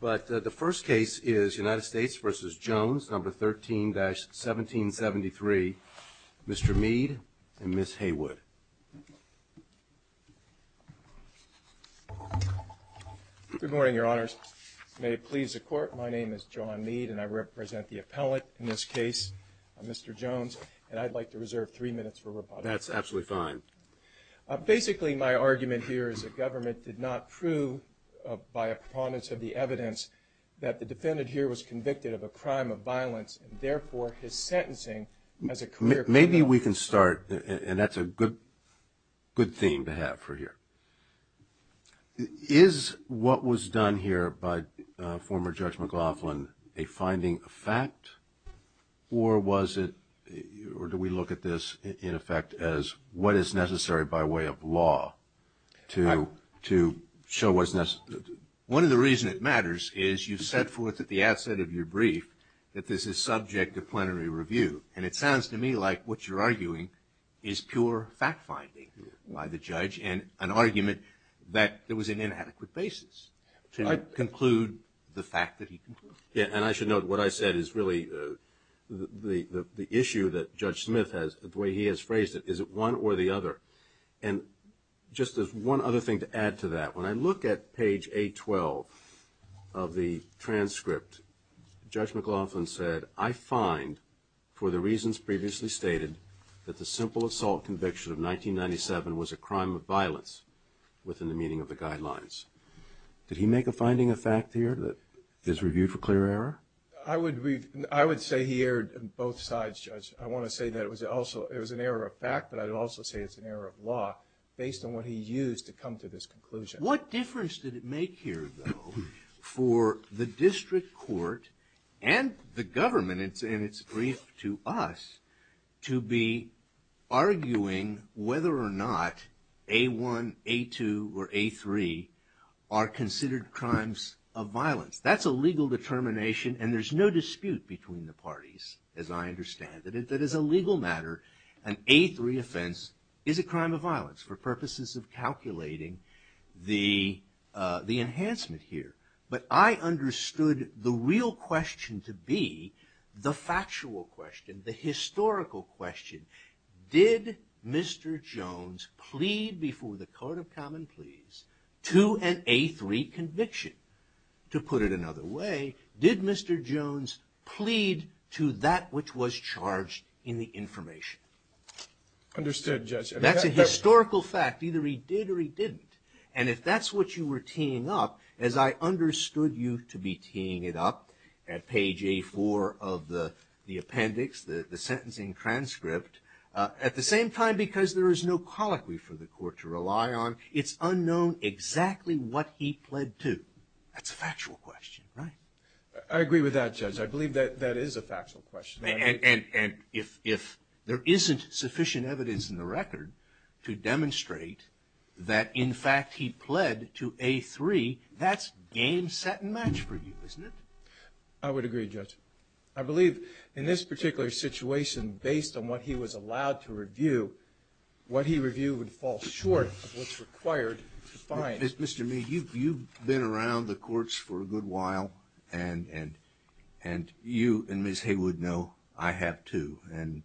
But the first case is United States v. Jones, No. 13-1773, Mr. Mead and Ms. Haywood. Good morning, Your Honors. May it please the Court, my name is John Mead and I represent the appellant in this case, Mr. Jones, and I'd like to reserve three minutes for rebuttal. That's absolutely fine. Basically, my argument here is the government did not prove by a preponderance of the evidence that the defendant here was convicted of a crime of violence and therefore his sentencing as a career criminal. Maybe we can start, and that's a good theme to have for here. Is what was done here by former Judge McLaughlin a finding of fact or was it, or do we look at this in effect as what is necessary by way of law to show what's necessary? One of the reasons it matters is you've set forth at the outset of your brief that this is subject to plenary review. And it sounds to me like what you're arguing is pure fact-finding by the judge and an argument that there was an inadequate basis to conclude the fact that he concluded. And I should note what I said is really the issue that Judge Smith has, the way he has phrased it, is it one or the other? And just as one other thing to add to that, when I look at page 812 of the transcript, Judge McLaughlin said, I find for the reasons previously stated that the simple assault conviction of 1997 was a crime of violence within the meaning of the guidelines. Did he make a finding of fact here that is reviewed for clear error? I would say he erred on both sides, Judge. I want to say that it was also, it was an error of fact, but I'd also say it's an error of law based on what he used to come to this conclusion. What difference did it make here, though, for the district court and the government, and it's brief to us, to be arguing whether or not A1, A2, or A3 are considered crimes of violence? That's a legal determination, and there's no dispute between the parties, as I understand it, that as a legal matter, an A3 offense is a crime of violence for purposes of calculating the enhancement here. But I understood the real question to be the factual question, the historical question, did Mr. Jones plead before the court of common pleas to an A3 conviction? To put it another way, did Mr. Jones plead to that which was charged in the information? Understood, Judge. That's a historical fact. Either he did or he didn't, and if that's what you were teeing up, as I understood you to be teeing it up, at page A4 of the appendix, the sentencing transcript, at the same time, because there is no colloquy for the court to rely on, it's unknown exactly what he pled to. That's a factual question, right? I agree with that, Judge. I believe that that is a factual question. And if there isn't sufficient evidence in the record to demonstrate that, in fact, he pled to A3, that's game, set, and match for you, isn't it? I would agree, Judge. I believe in this particular situation, based on what he was allowed to review, what he reviewed would fall short of what's required to find. Mr. Mead, you've been around the courts for a good while, and you and Ms. Haywood know I have, too. And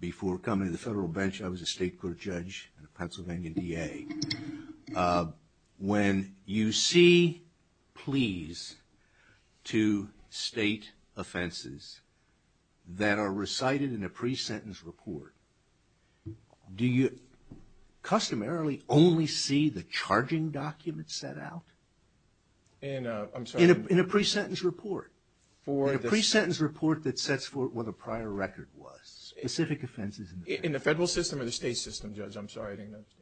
before coming to the federal bench, I was a state court judge and a Pennsylvania DA. When you see pleas to state offenses that are recited in a pre-sentence report, do you customarily only see the charging documents set out? In a pre-sentence report? In a pre-sentence report that sets forth what the prior record was, specific offenses. In the federal system or the state system, Judge? I'm sorry, I didn't understand.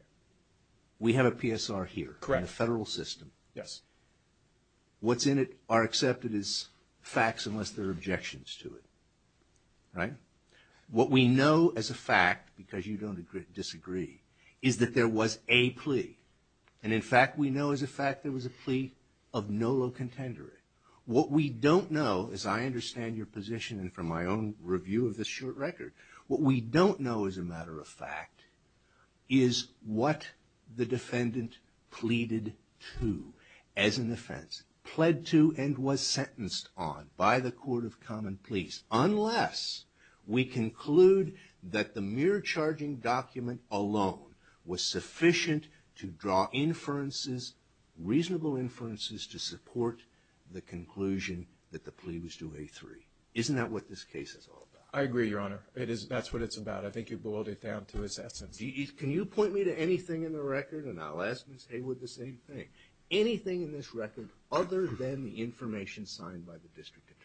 We have a PSR here. Correct. In the federal system. Yes. What's in it are accepted as facts unless there are objections to it, right? What we know as a fact, because you don't disagree, is that there was a plea. And, in fact, we know as a fact there was a plea of no low contender. What we don't know, as I understand your position and from my own review of this short record, what we don't know as a matter of fact is what the defendant pleaded to as an offense, pled to and was sentenced on by the Court of Common Pleas, unless we conclude that the mere charging document alone was sufficient to draw inferences, reasonable inferences to support the conclusion that the plea was to A3. Isn't that what this case is all about? I agree, Your Honor. That's what it's about. I think you boiled it down to its essence. Can you point me to anything in the record? And I'll ask Ms. Haywood the same thing. Anything in this record other than the information signed by the district attorney?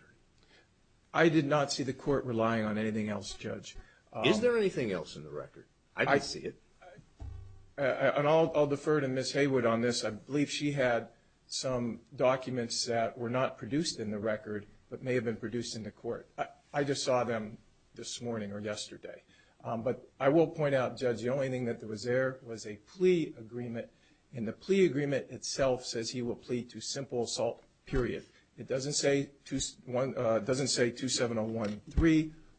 I did not see the court relying on anything else, Judge. Is there anything else in the record? I don't see it. And I'll defer to Ms. Haywood on this. I just saw them this morning or yesterday. But I will point out, Judge, the only thing that was there was a plea agreement, and the plea agreement itself says he will plead to simple assault, period. It doesn't say 27013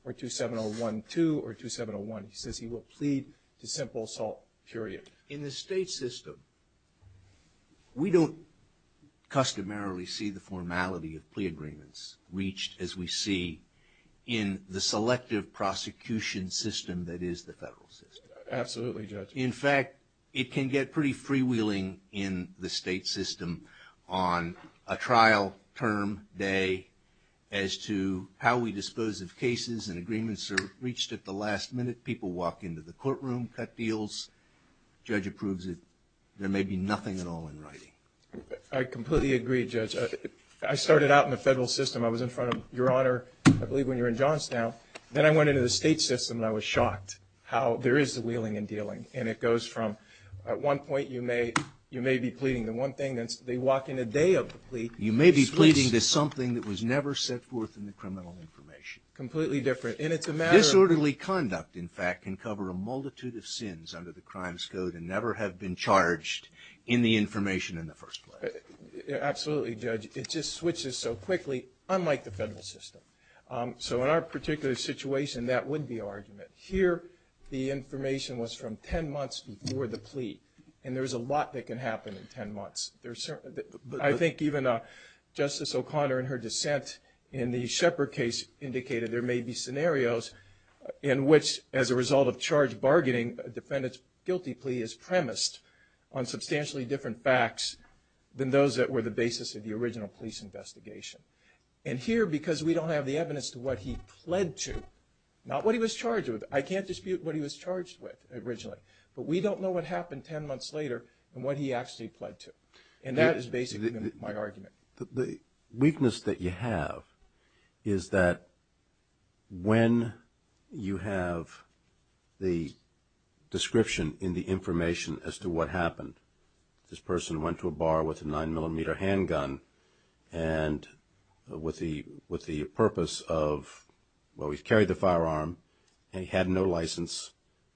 or 27012 or 2701. In the state system, we don't customarily see the formality of plea agreements reached as we see in the selective prosecution system that is the federal system. Absolutely, Judge. In fact, it can get pretty freewheeling in the state system on a trial term day as to how we dispose of cases and agreements are reached at the last minute. People walk into the courtroom, cut deals. The judge approves it. There may be nothing at all in writing. I completely agree, Judge. I started out in the federal system. I was in front of Your Honor, I believe, when you were in Johnstown. Then I went into the state system, and I was shocked how there is the wheeling and dealing. And it goes from at one point you may be pleading the one thing. They walk in a day of the plea. You may be pleading to something that was never set forth in the criminal information. Completely different. Disorderly conduct, in fact, can cover a multitude of sins under the Crimes Code and never have been charged in the information in the first place. Absolutely, Judge. It just switches so quickly, unlike the federal system. So in our particular situation, that would be argument. Here the information was from ten months before the plea, and there's a lot that can happen in ten months. I think even Justice O'Connor in her dissent in the Shepard case indicated there may be scenarios in which, as a result of charged bargaining, a defendant's guilty plea is premised on substantially different facts than those that were the basis of the original police investigation. And here, because we don't have the evidence to what he pled to, not what he was charged with. I can't dispute what he was charged with originally, but we don't know what happened ten months later and what he actually pled to. And that is basically my argument. The weakness that you have is that when you have the description in the information as to what happened, this person went to a bar with a 9mm handgun and with the purpose of, well, he carried the firearm, and he had no license,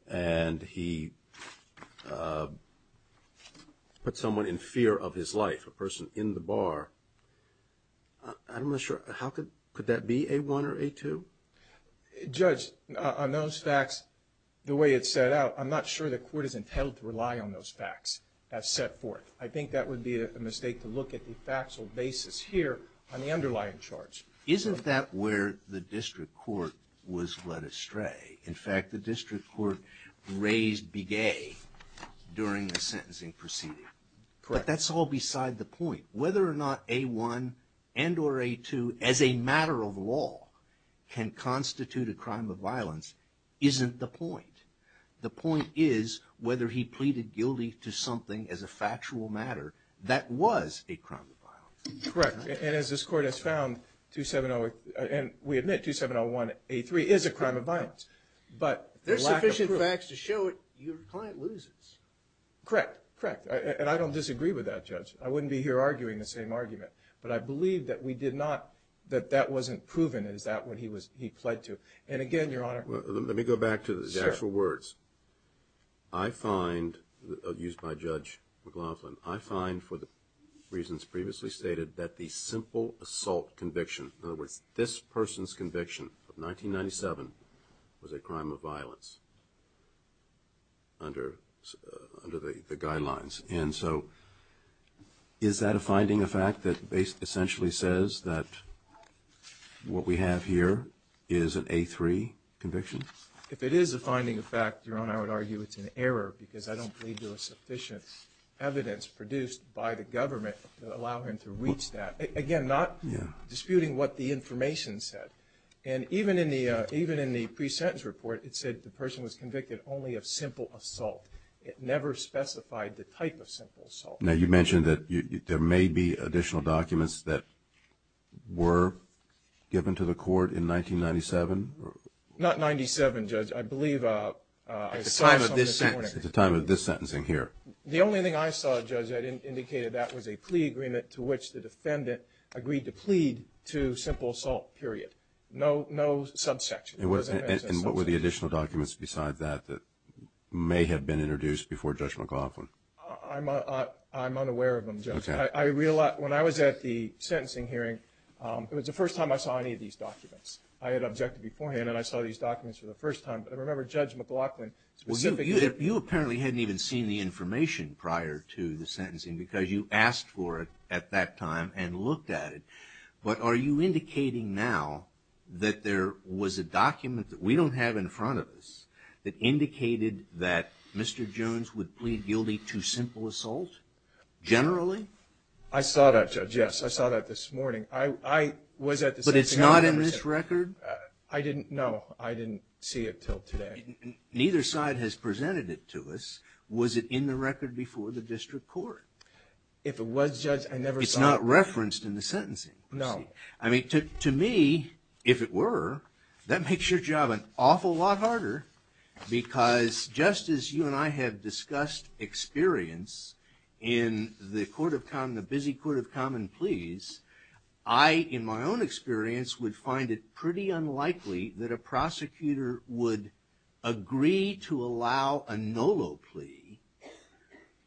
and he put someone in fear of his life, a person in the bar. I'm not sure. Could that be A1 or A2? Judge, on those facts, the way it's set out, I'm not sure the court is entitled to rely on those facts. That's set forth. I think that would be a mistake to look at the factual basis here on the underlying charge. Isn't that where the district court was led astray? In fact, the district court raised Big A during the sentencing proceeding. But that's all beside the point. Whether or not A1 and or A2, as a matter of law, can constitute a crime of violence isn't the point. The point is whether he pleaded guilty to something as a factual matter that was a crime of violence. Correct. And as this court has found, and we admit 2701A3 is a crime of violence. There's sufficient facts to show it. Your client loses. Correct. And I don't disagree with that, Judge. I wouldn't be here arguing the same argument. But I believe that we did not, that that wasn't proven. Is that what he pled to? And again, Your Honor. Let me go back to the actual words. I find, used by Judge McLaughlin, I find for the reasons previously stated that the simple assault conviction, in other words, this person's conviction of 1997 was a crime of violence under the guidelines. And so is that a finding of fact that essentially says that what we have here is an A3 conviction? If it is a finding of fact, Your Honor, I would argue it's an error because I don't believe there was sufficient evidence produced by the government to allow him to reach that. Again, not disputing what the information said. And even in the pre-sentence report, it said the person was convicted only of simple assault. It never specified the type of simple assault. Now, you mentioned that there may be additional documents that were given to the court in 1997? Not 97, Judge. I believe I saw something this morning. At the time of this sentencing here. The only thing I saw, Judge, that indicated that was a plea agreement to which the defendant agreed to plead to simple assault, period. No subsection. And what were the additional documents beside that that may have been introduced before Judge McLaughlin? I'm unaware of them, Judge. When I was at the sentencing hearing, it was the first time I saw any of these documents. I had objected beforehand, and I saw these documents for the first time. But I remember Judge McLaughlin specifically. Well, you apparently hadn't even seen the information prior to the sentencing because you asked for it at that time and looked at it. But are you indicating now that there was a document that we don't have in front of us that indicated that Mr. Jones would plead guilty to simple assault, generally? I saw that, Judge, yes. I saw that this morning. I was at the sentencing. But it's not in this record? I didn't know. I didn't see it until today. Neither side has presented it to us. Was it in the record before the district court? If it was, Judge, I never saw it. It's not referenced in the sentencing? No. I mean, to me, if it were, that makes your job an awful lot harder because just as you and I have discussed experience in the court of common, the busy court of common pleas, I, in my own experience, would find it pretty unlikely that a prosecutor would agree to allow a NOLO plea,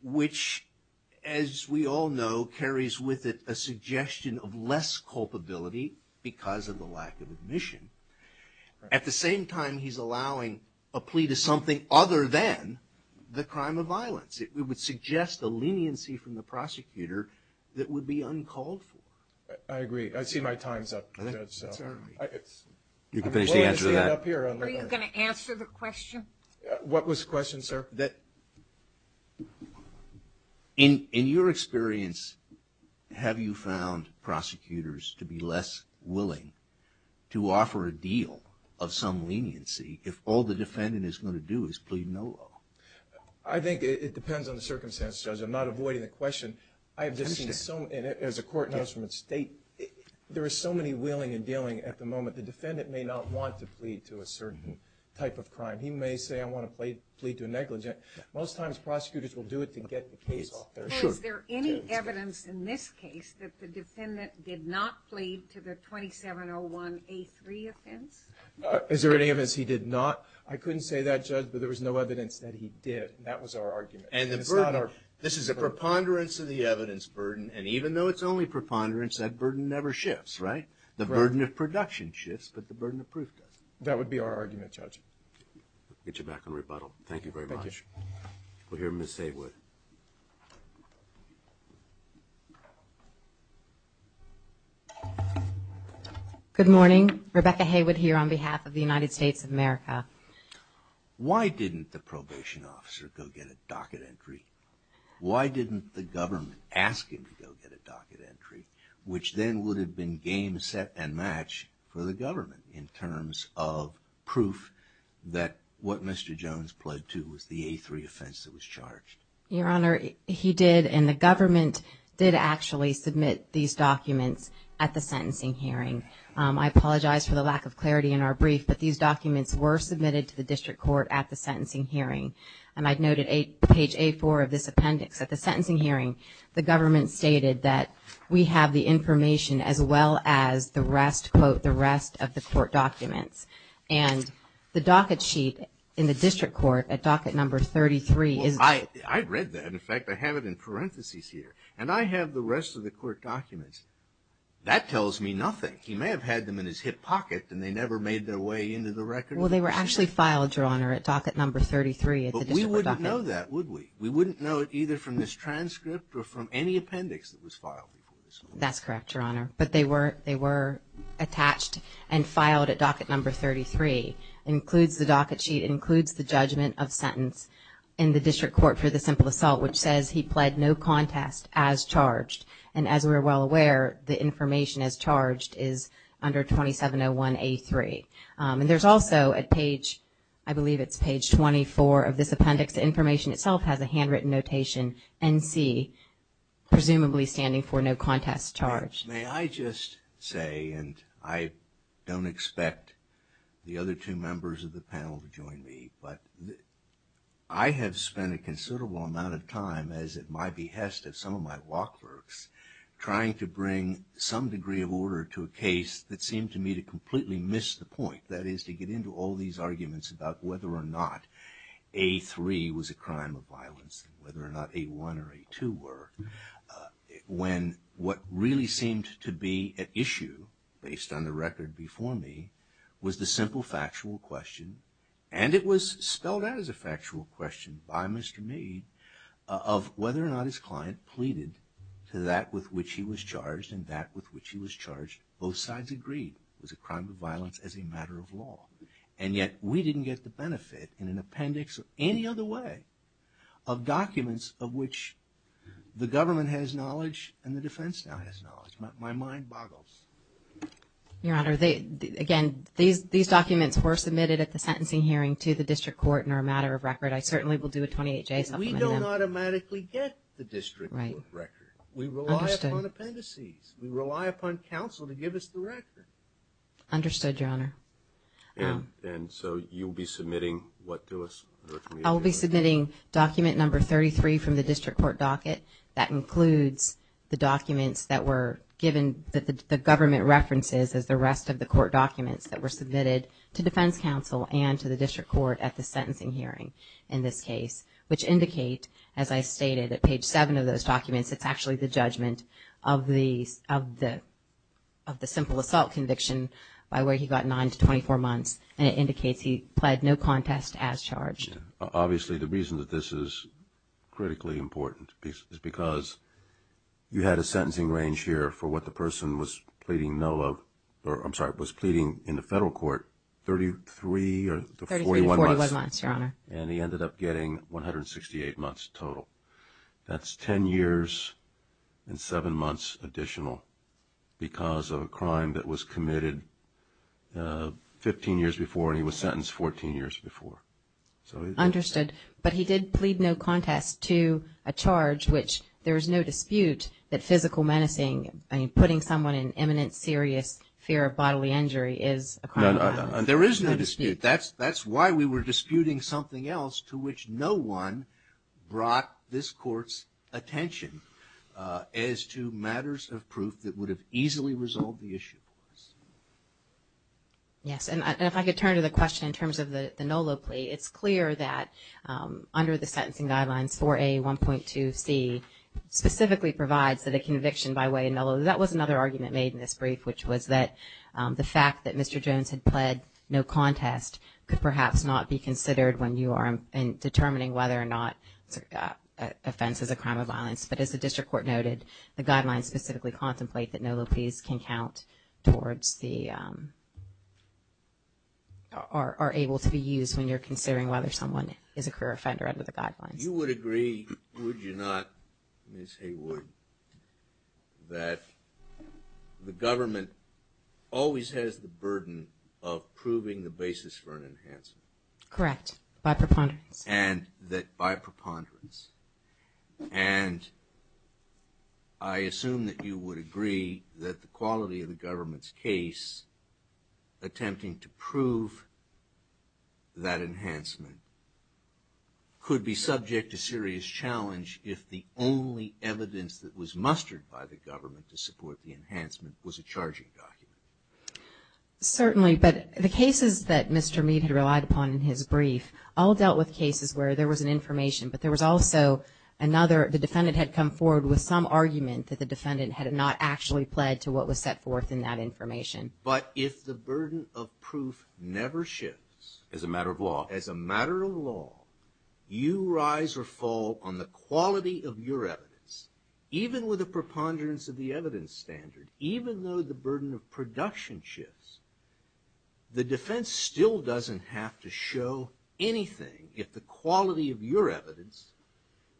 which, as we all know, carries with it a suggestion of less culpability because of the lack of admission. At the same time, he's allowing a plea to something other than the crime of violence. It would suggest a leniency from the prosecutor that would be uncalled for. I agree. I see my time's up, Judge. You can finish the answer to that. What was the question, sir? That in your experience, have you found prosecutors to be less willing to offer a deal of some leniency if all the defendant is going to do is plead NOLO? I think it depends on the circumstance, Judge. I'm not avoiding the question. I have just seen so many, and as the court knows from its state, there are so many willing and dealing at the moment. The defendant may not want to plead to a certain type of crime. He may say, I want to plead to a negligent. Most times, prosecutors will do it to get the case off their shoulders. Is there any evidence in this case that the defendant did not plead to the 2701A3 offense? Is there any evidence he did not? I couldn't say that, Judge, but there was no evidence that he did. That was our argument. This is a preponderance of the evidence burden, and even though it's only preponderance, that burden never shifts, right? The burden of production shifts, but the burden of proof doesn't. That would be our argument, Judge. We'll get you back on rebuttal. Thank you very much. Thank you. We'll hear Ms. Haywood. Good morning. Rebecca Haywood here on behalf of the United States of America. Why didn't the probation officer go get a docket entry? Why didn't the government ask him to go get a docket entry, which then would have been game, set, and match for the government in terms of proof that what Mr. Jones pled to was the A3 offense that was charged? Your Honor, he did, and the government did actually submit these documents at the sentencing hearing. I apologize for the lack of clarity in our brief, but these documents were submitted to the district court at the sentencing hearing, and I noted page A4 of this appendix. At the sentencing hearing, the government stated that we have the information as well as the rest, quote, the rest of the court documents. And the docket sheet in the district court at docket number 33 is... Well, I read that. In fact, I have it in parentheses here, and I have the rest of the court documents. That tells me nothing. He may have had them in his hip pocket, and they never made their way into the record. Well, they were actually filed, Your Honor, at docket number 33 at the district docket. But we wouldn't know that, would we? We wouldn't know it either from this transcript or from any appendix that was filed. That's correct, Your Honor. But they were attached and filed at docket number 33. It includes the docket sheet. It includes the judgment of sentence in the district court for the simple assault, which says he pled no contest as charged. And as we're well aware, the information as charged is under 2701A3. And there's also at page, I believe it's page 24 of this appendix, the information itself has a handwritten notation, NC, presumably standing for no contest charged. May I just say, and I don't expect the other two members of the panel to join me, but I have spent a considerable amount of time, as at my behest of some of my lock clerks, trying to bring some degree of order to a case that seemed to me to completely miss the point, that is to get into all these arguments about whether or not A3 was a crime of violence, whether or not A1 or A2 were, when what really seemed to be at issue, based on the record before me, was the simple factual question, and it was spelled out as a factual question by Mr. Mead, of whether or not his client pleaded to that with which he was charged and that with which he was charged. Both sides agreed it was a crime of violence as a matter of law. And yet we didn't get the benefit in an appendix or any other way of documents of which the government has knowledge and the defense now has knowledge. My mind boggles. Your Honor, again, these documents were submitted at the sentencing hearing to the district court and are a matter of record. I certainly will do a 28-J supplement on them. We don't automatically get the district court record. We rely upon appendices. We rely upon counsel to give us the record. Understood, Your Honor. And so you'll be submitting what to us? I'll be submitting document number 33 from the district court docket that includes the documents that were given that the government references as the rest of the court documents that were submitted to defense counsel and to the district court at the sentencing hearing in this case, which indicate, as I stated, at page 7 of those documents, it's actually the judgment of the simple assault conviction by where he got 9 to 24 months. And it indicates he pled no contest as charged. Obviously, the reason that this is critically important is because you had a sentencing range here for what the person was pleading no of, or I'm sorry, was pleading in the federal court 33 or 41 months. Thirty-three to 41 months, Your Honor. And he ended up getting 168 months total. That's 10 years and 7 months additional because of a crime that was committed 15 years before and he was sentenced 14 years before. Understood. But he did plead no contest to a charge which there is no dispute that physical menacing, putting someone in imminent serious fear of bodily injury, is a crime of violence. There is no dispute. That's why we were disputing something else to which no one brought this court's attention as to matters of proof that would have easily resolved the issue for us. Yes. And if I could turn to the question in terms of the Nolo plea, it's clear that under the sentencing guidelines, 4A1.2C, specifically provides that a conviction by way of Nolo, that was another argument made in this brief, which was that the fact that Mr. Jones had pled no contest could perhaps not be considered when you are determining whether or not offense is a crime of violence. But as the district court noted, the guidelines specifically contemplate that Nolo pleas can count towards the or are able to be used when you're considering whether someone is a career offender under the guidelines. You would agree, would you not, Ms. Haywood, that the government always has the burden of proving the basis for an enhancement? Correct. By preponderance. And that by preponderance. And I assume that you would agree that the quality of the government's case attempting to prove that enhancement could be subject to serious challenge if the only evidence that was mustered by the government to support the enhancement was a charging document. Certainly. But the cases that Mr. Meade had relied upon in his brief all dealt with cases where there was an information, but there was also another, the defendant had come forward with some argument that the defendant had not actually pled to what was set forth in that information. But if the burden of proof never shifts. As a matter of law. As a matter of law, you rise or fall on the quality of your evidence, even with a preponderance of the evidence standard, even though the burden of production shifts, the defense still doesn't have to show anything if the quality of your evidence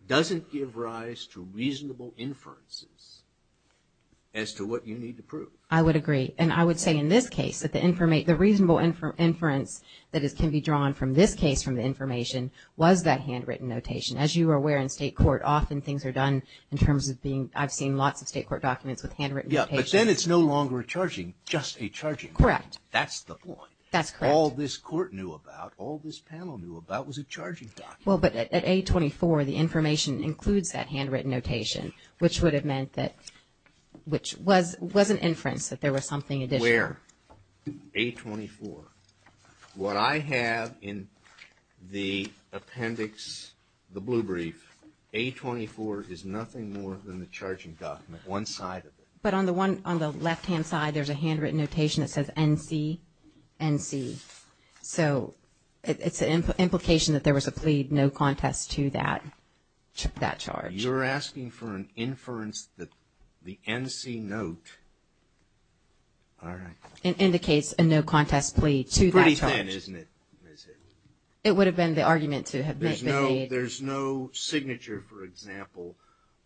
doesn't give rise to reasonable inferences as to what you need to prove. I would agree. And I would say in this case that the reasonable inference that can be drawn from this case from the information was that handwritten notation. As you are aware in state court, often things are done in terms of being, I've seen lots of state court documents with handwritten notation. But then it's no longer a charging, just a charging. Correct. That's the point. That's correct. All this court knew about, all this panel knew about was a charging document. Well, but at 824, the information includes that handwritten notation, which would have meant that, which was an inference that there was something additional. Where? 824. What I have in the appendix, the blue brief, 824 is nothing more than the charging document, one side of it. But on the left-hand side, there's a handwritten notation that says NC, NC. So it's an implication that there was a plea, no contest to that charge. You're asking for an inference that the NC note, all right. It indicates a no contest plea to that charge. It's pretty thin, isn't it? It would have been the argument to have made. There's no signature, for example,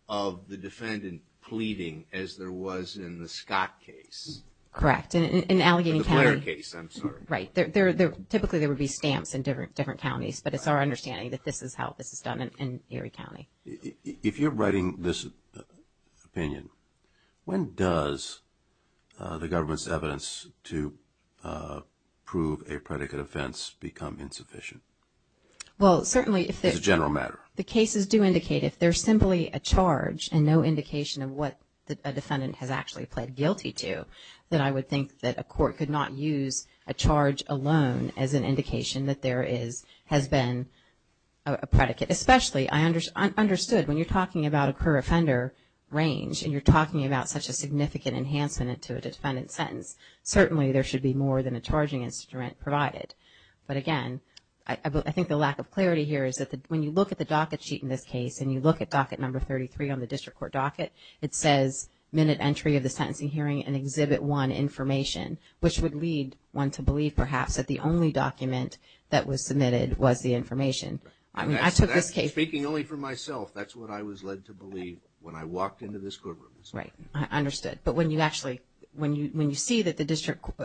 of the defendant pleading as there was in the Scott case. Correct. In Allegheny County. In the Blair case, I'm sorry. Right. Typically there would be stamps in different counties, but it's our understanding that this is how this is done in Erie County. If you're writing this opinion, when does the government's evidence to prove a predicate offense become insufficient? Well, certainly if there's a general matter. The cases do indicate if there's simply a charge and no indication of what a defendant has actually pled guilty to, then I would think that a court could not use a charge alone as an indication that there has been a predicate. Especially, I understood when you're talking about a career offender range and you're talking about such a significant enhancement to a defendant's sentence, certainly there should be more than a charging instrument provided. But again, I think the lack of clarity here is that when you look at the docket sheet in this case and you look at docket number 33 on the district court docket, it says minute entry of the sentencing hearing and exhibit one information, which would lead one to believe perhaps that the only document that was submitted was the information. I mean, I took this case... Speaking only for myself, that's what I was led to believe when I walked into this courtroom. Right. I understood. But when you actually, when you see that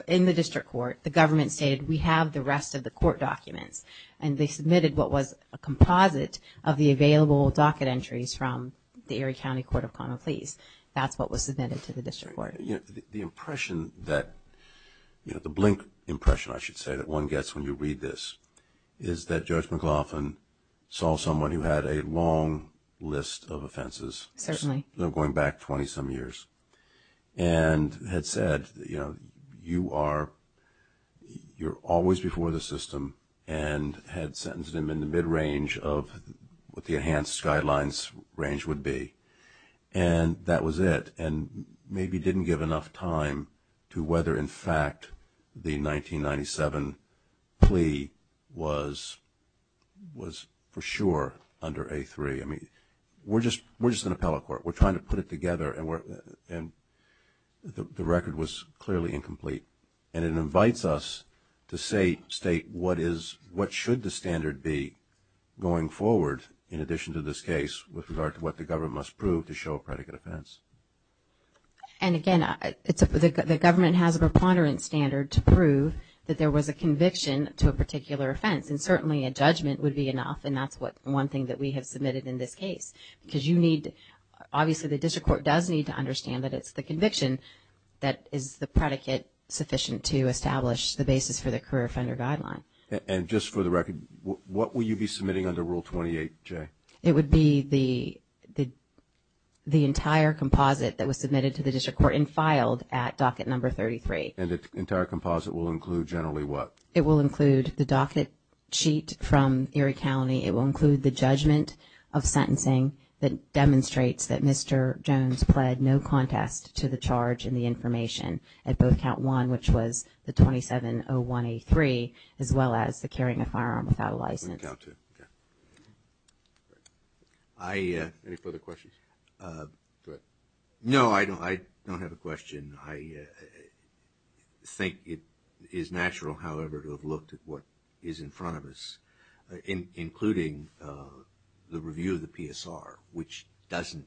in the district court, the government stated we have the rest of the court documents and they submitted what was a composite of the available docket entries from the Erie County Court of Common Pleas. That's what was submitted to the district court. The impression that, you know, the blink impression I should say that one gets when you read this is that Judge McLaughlin saw someone who had a long list of offenses... Certainly. ...going back 20-some years and had said, you know, you are always before the system and had sentenced him in the mid-range of what the enhanced guidelines range would be. And that was it. And maybe didn't give enough time to whether in fact the 1997 plea was for sure under A3. I mean, we're just an appellate court. We're trying to put it together and the record was clearly incomplete. And it invites us to state what should the standard be going forward in addition to this case with regard to what the government must prove to show a predicate offense. And again, the government has a preponderance standard to prove that there was a conviction to a particular offense. And certainly a judgment would be enough, and that's one thing that we have submitted in this case. Because you need, obviously the district court does need to understand that it's the conviction that is the predicate sufficient to establish the basis for the career offender guideline. And just for the record, what will you be submitting under Rule 28J? It would be the entire composite that was submitted to the district court and filed at docket number 33. And the entire composite will include generally what? It will include the docket sheet from Erie County. It will include the judgment of sentencing that demonstrates that Mr. Jones pled no contest to the charge in the information at both count one, which was the 2701A3, as well as the carrying a firearm without a license. Erie County. Any further questions? No, I don't have a question. I think it is natural, however, to have looked at what is in front of us, including the review of the PSR, which doesn't,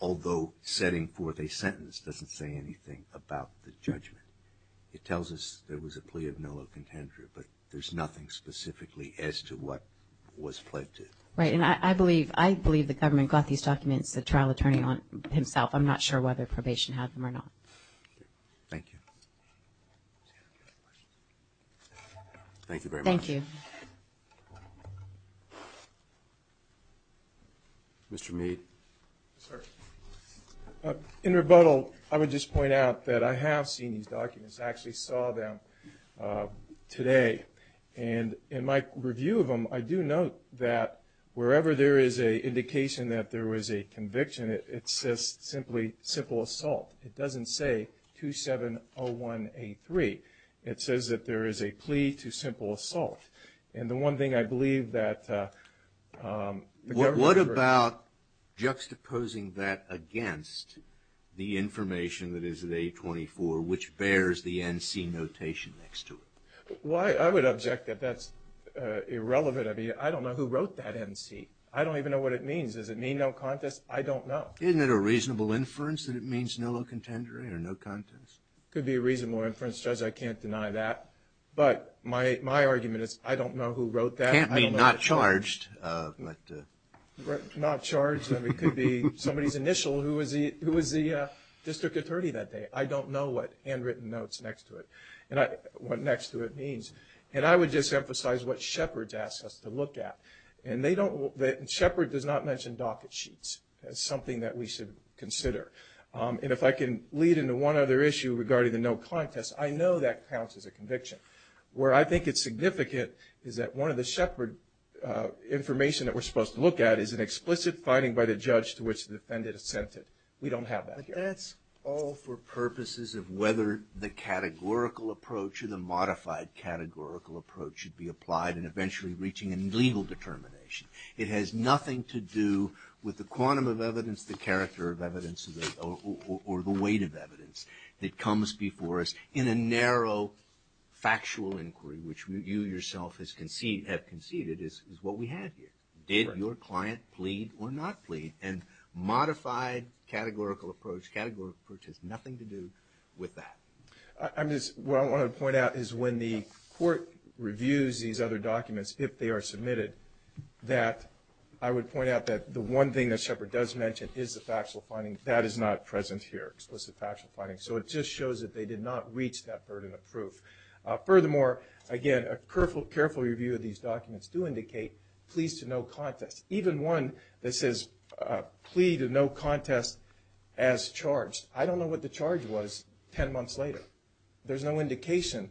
although setting forth a sentence, doesn't say anything about the judgment. It tells us there was a plea of no contender, but there's nothing specifically as to what was pled to. Right. And I believe the government got these documents, the trial attorney himself. I'm not sure whether probation had them or not. Thank you. Thank you very much. Thank you. Mr. Mead. Yes, sir. In rebuttal, I would just point out that I have seen these documents. I actually saw them today, and in my review of them, I do note that wherever there is an indication that there was a conviction, it says simply simple assault. It doesn't say 2701A3. It says that there is a plea to simple assault. And the one thing I believe that the government. What about juxtaposing that against the information that is in A24, which bears the NC notation next to it? Well, I would object that that's irrelevant. I mean, I don't know who wrote that NC. I don't even know what it means. Does it mean no contest? I don't know. Isn't it a reasonable inference that it means no contender or no contest? It could be a reasonable inference, Judge. I can't deny that. But my argument is I don't know who wrote that. It can't be not charged. Not charged. It could be somebody's initial who was the district attorney that day. I don't know what handwritten notes next to it, what next to it means. And I would just emphasize what Shepard's asks us to look at. And Shepard does not mention docket sheets. That's something that we should consider. And if I can lead into one other issue regarding the no contest, I know that counts as a conviction. Where I think it's significant is that one of the Shepard information that we're supposed to look at is an explicit finding by the judge to which the defendant assented. We don't have that here. But that's all for purposes of whether the categorical approach or the modified categorical approach should be applied in eventually reaching a legal determination. It has nothing to do with the quantum of evidence, the character of evidence, or the weight of evidence that comes before us. In a narrow factual inquiry, which you yourself have conceded, is what we have here. Did your client plead or not plead? And modified categorical approach, categorical approach, has nothing to do with that. What I want to point out is when the court reviews these other documents, if they are submitted, that I would point out that the one thing that Shepard does mention is the factual finding. That is not present here, explicit factual finding. So it just shows that they did not reach that burden of proof. Furthermore, again, a careful review of these documents do indicate pleas to no contest. Even one that says plea to no contest as charged, I don't know what the charge was 10 months later. There's no indication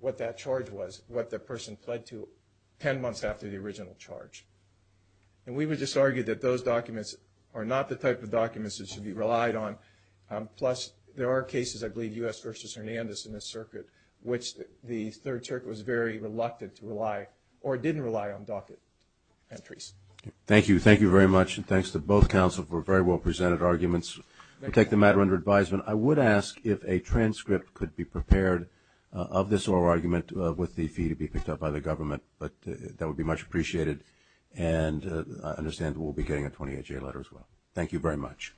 what that charge was, what the person pled to 10 months after the original charge. And we would just argue that those documents are not the type of documents that should be relied on. Plus, there are cases, I believe, U.S. v. Hernandez in this circuit, which the Third Circuit was very reluctant to rely or didn't rely on docket entries. Thank you. Thank you very much. And thanks to both counsel for very well presented arguments. We'll take the matter under advisement. I would ask if a transcript could be prepared of this oral argument with the fee to be picked up by the government. But that would be much appreciated. And I understand we'll be getting a 28-J letter as well. Thank you very much.